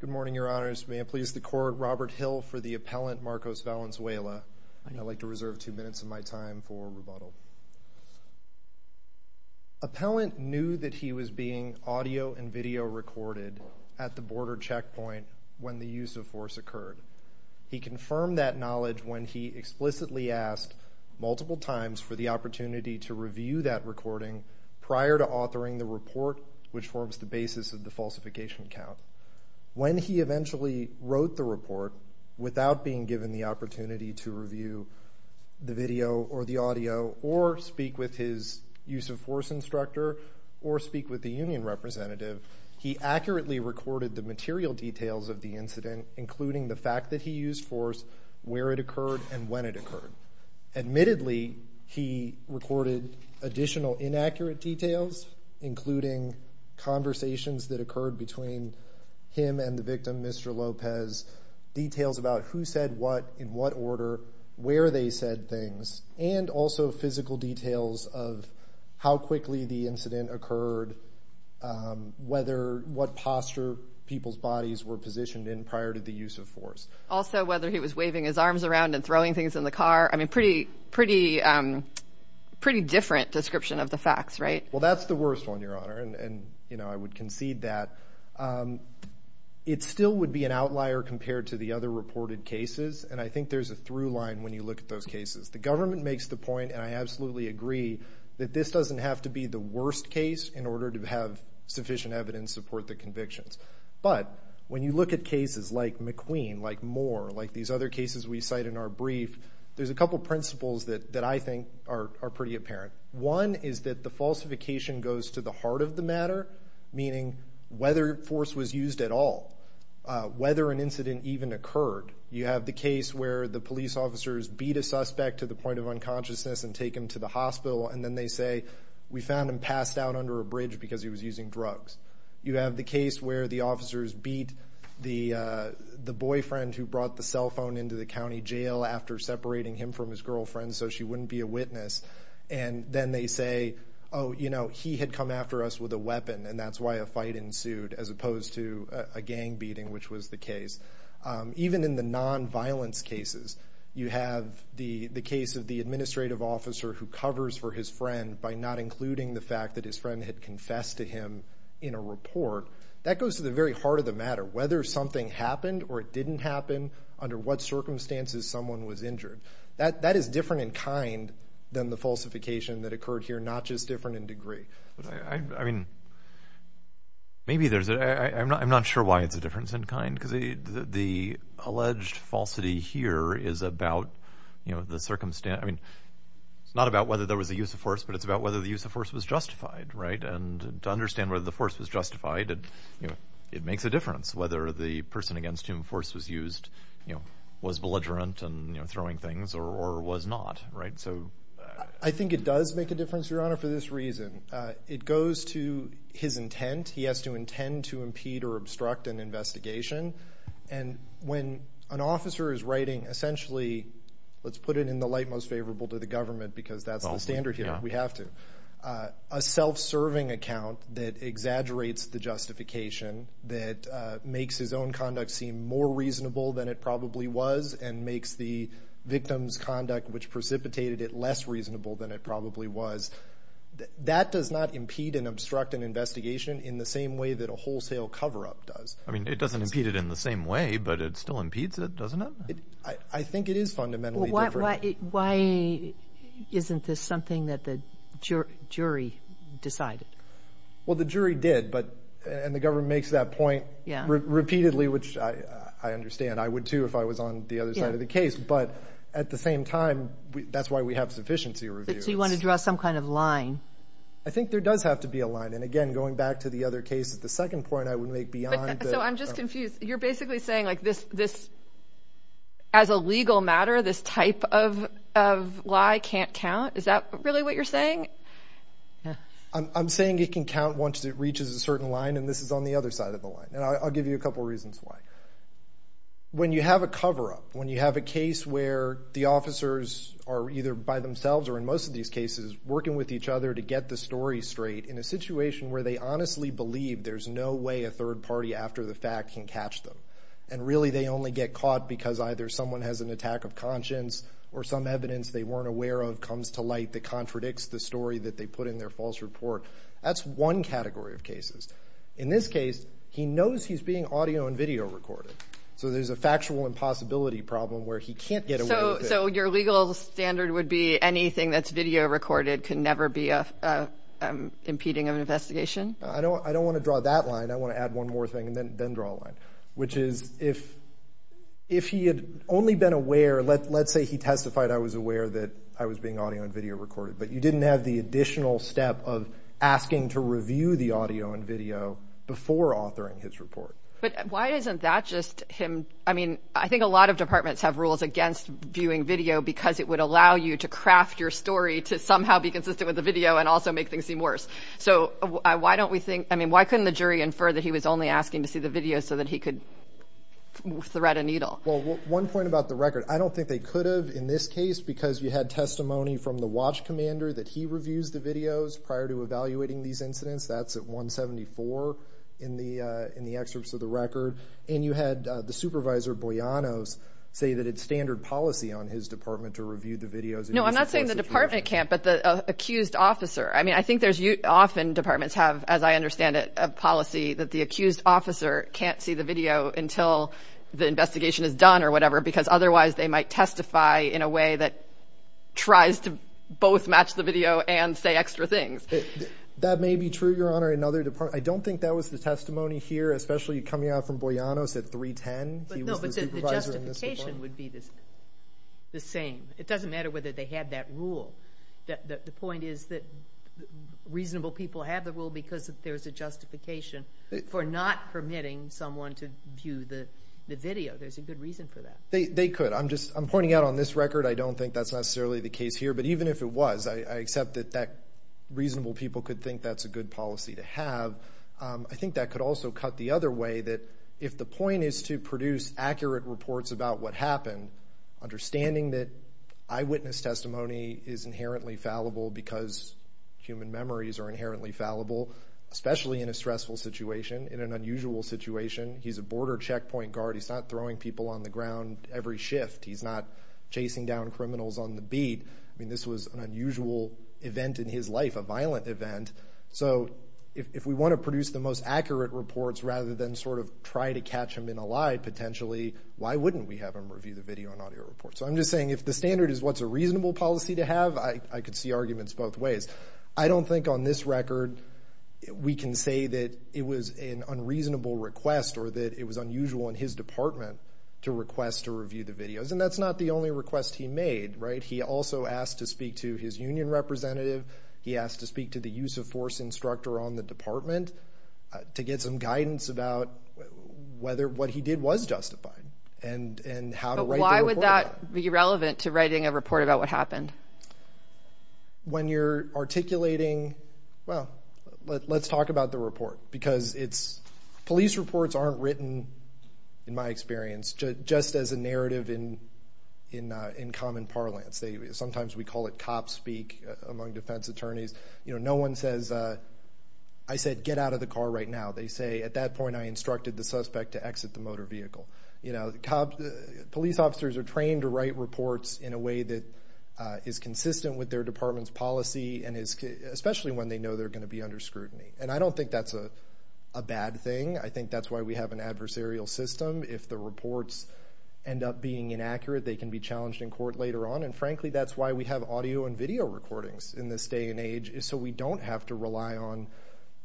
Good morning your honors. May I please the court Robert Hill for the appellant Marcos Valenzuela. I'd like to reserve two minutes of my time for rebuttal. Appellant knew that he was being audio and video recorded at the border checkpoint when the use of force occurred. He confirmed that knowledge when he explicitly asked multiple times for the opportunity to review that recording prior to authoring the report which forms the basis of the report. When he eventually wrote the report without being given the opportunity to review the video or the audio or speak with his use of force instructor or speak with the union representative he accurately recorded the material details of the incident including the fact that he used force where it occurred and when it occurred. Admittedly he recorded additional inaccurate details including conversations that occurred between him and the victim Mr. Lopez details about who said what in what order where they said things and also physical details of how quickly the incident occurred whether what posture people's bodies were positioned in prior to the use of force. Also whether he was waving his arms around and throwing things in the facts right? Well that's the worst one your honor and you know I would concede that. It still would be an outlier compared to the other reported cases and I think there's a through line when you look at those cases. The government makes the point and I absolutely agree that this doesn't have to be the worst case in order to have sufficient evidence support the convictions but when you look at cases like McQueen like Moore like these other cases we cite in our brief there's a couple principles that that I think are pretty apparent. One is that the falsification goes to the heart of the matter meaning whether force was used at all whether an incident even occurred. You have the case where the police officers beat a suspect to the point of unconsciousness and take him to the hospital and then they say we found him passed out under a bridge because he was using drugs. You have the case where the officers beat the the boyfriend who brought the cell phone into the county jail after separating him from his girlfriend so she wouldn't be a witness and then they say oh you know he had come after us with a weapon and that's why a fight ensued as opposed to a gang beating which was the case. Even in the non-violence cases you have the the case of the administrative officer who covers for his friend by not including the fact that his friend had confessed to him in a report. That goes to the very heart of the matter whether something happened or it didn't happen under what circumstances someone was injured. That that is different in kind than the falsification that occurred here not just different in degree. I mean maybe there's a I'm not I'm not sure why it's a difference in kind because the alleged falsity here is about you know the circumstance I mean it's not about whether there was a use of force but it's about whether the use of force was justified right and to understand whether the force was justified and you makes a difference whether the person against human force was used you know was belligerent and you know throwing things or was not right so. I think it does make a difference your honor for this reason. It goes to his intent he has to intend to impede or obstruct an investigation and when an officer is writing essentially let's put it in the light most favorable to the government because that's the standard here we have to. A self-serving account that makes his own conduct seem more reasonable than it probably was and makes the victim's conduct which precipitated it less reasonable than it probably was. That does not impede and obstruct an investigation in the same way that a wholesale cover-up does. I mean it doesn't impede it in the same way but it still impedes it doesn't it? I think it is fundamentally different. Why isn't this something that the jury decided? Well the jury did but and the point yeah repeatedly which I understand I would too if I was on the other side of the case but at the same time that's why we have sufficiency review. So you want to draw some kind of line? I think there does have to be a line and again going back to the other case at the second point I would make beyond. So I'm just confused you're basically saying like this as a legal matter this type of lie can't count is that really what you're saying? I'm saying it can count once it reaches a certain line and this is on the other side of the line and I'll give you a couple reasons why. When you have a cover-up when you have a case where the officers are either by themselves or in most of these cases working with each other to get the story straight in a situation where they honestly believe there's no way a third party after the fact can catch them and really they only get caught because either someone has an attack of conscience or some evidence they weren't aware of comes to light that contradicts the story that they put in their false report. That's one category of cases. In this case he knows he's being audio and video recorded so there's a factual impossibility problem where he can't get away with it. So your legal standard would be anything that's video recorded can never be a impeding of investigation? I don't I don't want to draw that line I want to add one more thing and then then draw a line which is if if he had only been aware let's say he testified I was aware that I was being audio and video recorded but you didn't have the additional step of asking to review the audio and video before authoring his report. But why isn't that just him I mean I think a lot of departments have rules against viewing video because it would allow you to craft your story to somehow be consistent with the video and also make things seem worse. So why don't we think I mean why couldn't the jury infer that he was only asking to see the video so that he could thread a needle? Well one point about the record I don't think they could have in this case because you testimony from the watch commander that he reviews the videos prior to evaluating these incidents that's at 174 in the in the excerpts of the record and you had the supervisor Bojanos say that it's standard policy on his department to review the videos. No I'm not saying the department can't but the accused officer I mean I think there's you often departments have as I understand it a policy that the accused officer can't see the video until the investigation is or whatever because otherwise they might testify in a way that tries to both match the video and say extra things. That may be true your honor another department I don't think that was the testimony here especially coming out from Bojanos at 310. The justification would be the same it doesn't matter whether they had that rule that the point is that reasonable people have the rule because if there's a justification for not permitting someone to view the video there's a good reason for that. They could I'm just I'm pointing out on this record I don't think that's necessarily the case here but even if it was I accept that that reasonable people could think that's a good policy to have I think that could also cut the other way that if the point is to produce accurate reports about what happened understanding that eyewitness testimony is inherently fallible because human memories are inherently fallible especially in a stressful situation in an unusual situation he's a border checkpoint guard he's not throwing people on the ground every shift he's not chasing down criminals on the beat I mean this was an unusual event in his life a violent event so if we want to produce the most accurate reports rather than sort of try to catch him in a lie potentially why wouldn't we have him review the video and audio report so I'm just saying if the standard is what's a reasonable policy to have I could see arguments both ways I don't think on this record we can say that it was an unreasonable request or that it was unusual in his department to request to review the videos and that's not the only request he made right he also asked to speak to his union representative he asked to speak to the use of force instructor on the department to get some guidance about whether what he did was justified and and how why would that be relevant to writing a report about what happened when you're articulating well let's talk about the report because it's police reports aren't written in my experience just as a narrative in in in common parlance they sometimes we call it cop speak among defense attorneys you know no one says I said get out of the car right now they say at that point I instructed the suspect to exit the motor vehicle you know the cop police officers are trained to write reports in a way that is consistent with their department's policy and is especially when they know they're going to be under scrutiny and I don't think that's a bad thing I think that's why we have an adversarial system if the reports end up being inaccurate they can be challenged in court later on and frankly that's why we have audio and video recordings in this day and age is so we don't have to rely on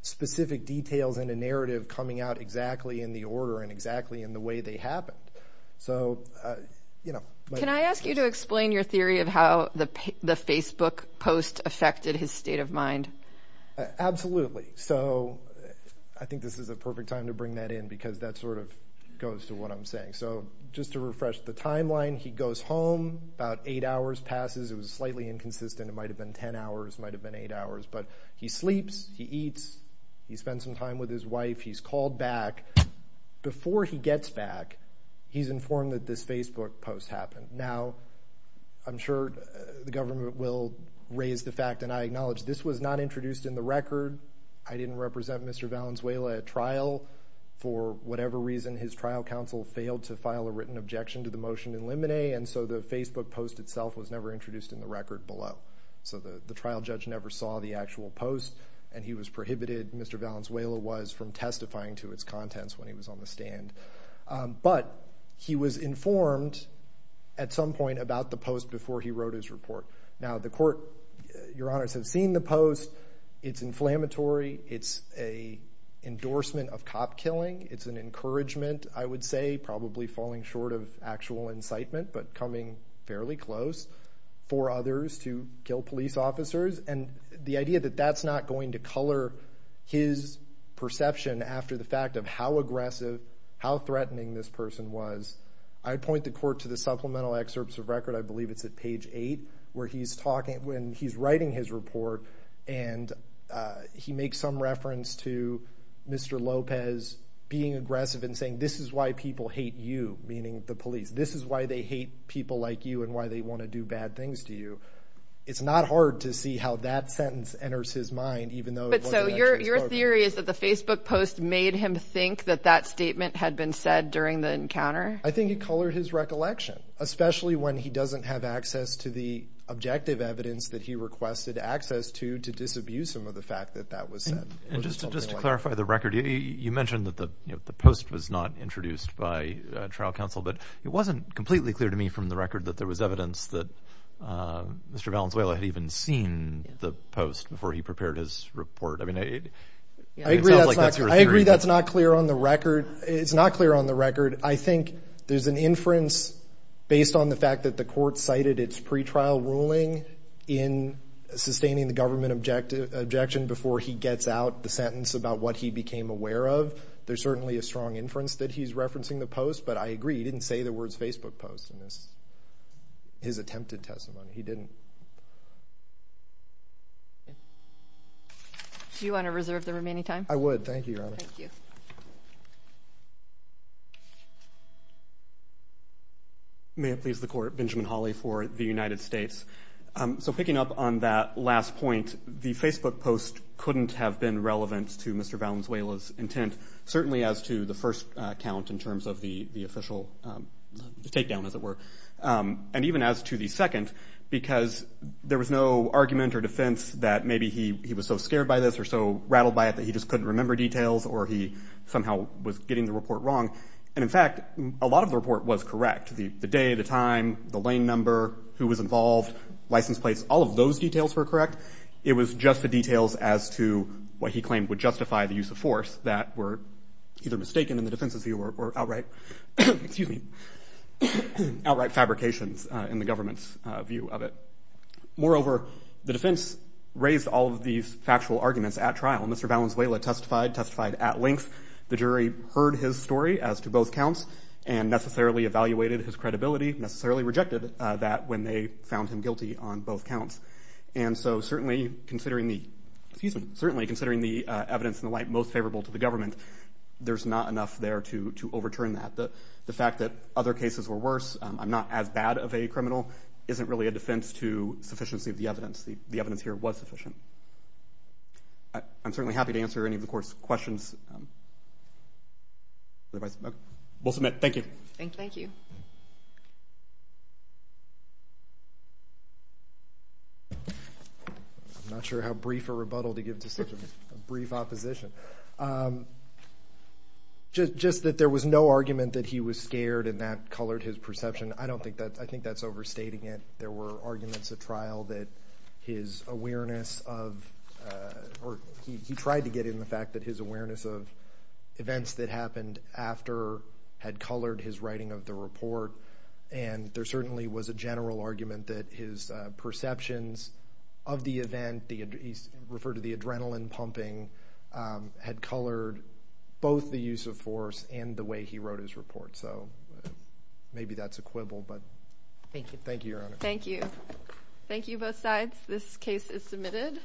specific details in a narrative coming out exactly in the order and exactly in the way they happened so you know can I ask you to explain your mind absolutely so I think this is a perfect time to bring that in because that sort of goes to what I'm saying so just to refresh the timeline he goes home about eight hours passes it was slightly inconsistent it might have been ten hours might have been eight hours but he sleeps he eats he spent some time with his wife he's called back before he gets back he's informed that this Facebook post happened now I'm sure the government will raise the fact and I was not introduced in the record I didn't represent mr. Valenzuela at trial for whatever reason his trial counsel failed to file a written objection to the motion in limine and so the Facebook post itself was never introduced in the record below so the the trial judge never saw the actual post and he was prohibited mr. Valenzuela was from testifying to its contents when he was on the stand but he was informed at some point about the post before he wrote his report now the court your honors have seen the post it's inflammatory it's a endorsement of cop killing it's an encouragement I would say probably falling short of actual incitement but coming fairly close for others to kill police officers and the idea that that's not going to color his perception after the fact of how aggressive how threatening this person was I'd point the court to the supplemental excerpts of record I believe it's at page 8 where he's talking when he's writing his report and he makes some reference to mr. Lopez being aggressive and saying this is why people hate you meaning the police this is why they hate people like you and why they want to do bad things to you it's not hard to see how that sentence enters his mind even though your theory is that the Facebook post made him think that that statement had been said during the encounter I think it colored his recollection especially when he doesn't have access to the objective evidence that he requested access to to disabuse him of the fact that that was just to clarify the record you mentioned that the post was not introduced by trial counsel but it wasn't completely clear to me from the record that there was evidence that mr. Valenzuela had even seen the post before he prepared his report I mean I agree that's not clear on the record it's not clear on the record I think there's an inference based on the fact that the court cited its pretrial ruling in sustaining the government objective objection before he gets out the sentence about what he became aware of there's certainly a strong inference that he's referencing the post but I agree he didn't say the words Facebook post in this his attempted testimony he didn't do you want to reserve the remaining time I would thank you may have pleased the court Benjamin Hawley for the United States so picking up on that last point the Facebook post couldn't have been relevant to mr. Valenzuela's intent certainly as to the first count in terms of the the official takedown as it were and even as to the second because there was no argument or defense that maybe he was so scared by this or so rattled by it that he just couldn't remember details or he somehow was getting the report wrong and in fact a lot of the report was correct the day at a time the lane number who was involved license plates all of those details were correct it was just the details as to what he claimed would justify the use of force that were either mistaken in the fabrications in the government's view of it moreover the defense raised all of these factual arguments at trial mr. Valenzuela testified testified at length the jury heard his story as to both counts and necessarily evaluated his credibility necessarily rejected that when they found him guilty on both counts and so certainly considering the season certainly considering the evidence in the light most favorable to the government there's not enough there to overturn that the fact that other cases were worse I'm not as bad of a criminal isn't really a defense to sufficiency of the evidence the evidence here was sufficient I'm certainly happy to answer any of the course questions we'll submit thank you thank you I'm not sure how brief a rebuttal to give decision brief opposition just that there was no argument that he was scared and that colored his perception I don't think that I think that's overstating it there were arguments at trial that his awareness of or he tried to get in the fact that his awareness of events that happened after had colored his writing of the report and there certainly was a general argument that his perceptions of the event the refer to the adrenaline pumping had colored both the use of force and the way he wrote his report so maybe that's a quibble but thank you thank you thank you thank you both sides this case is submitted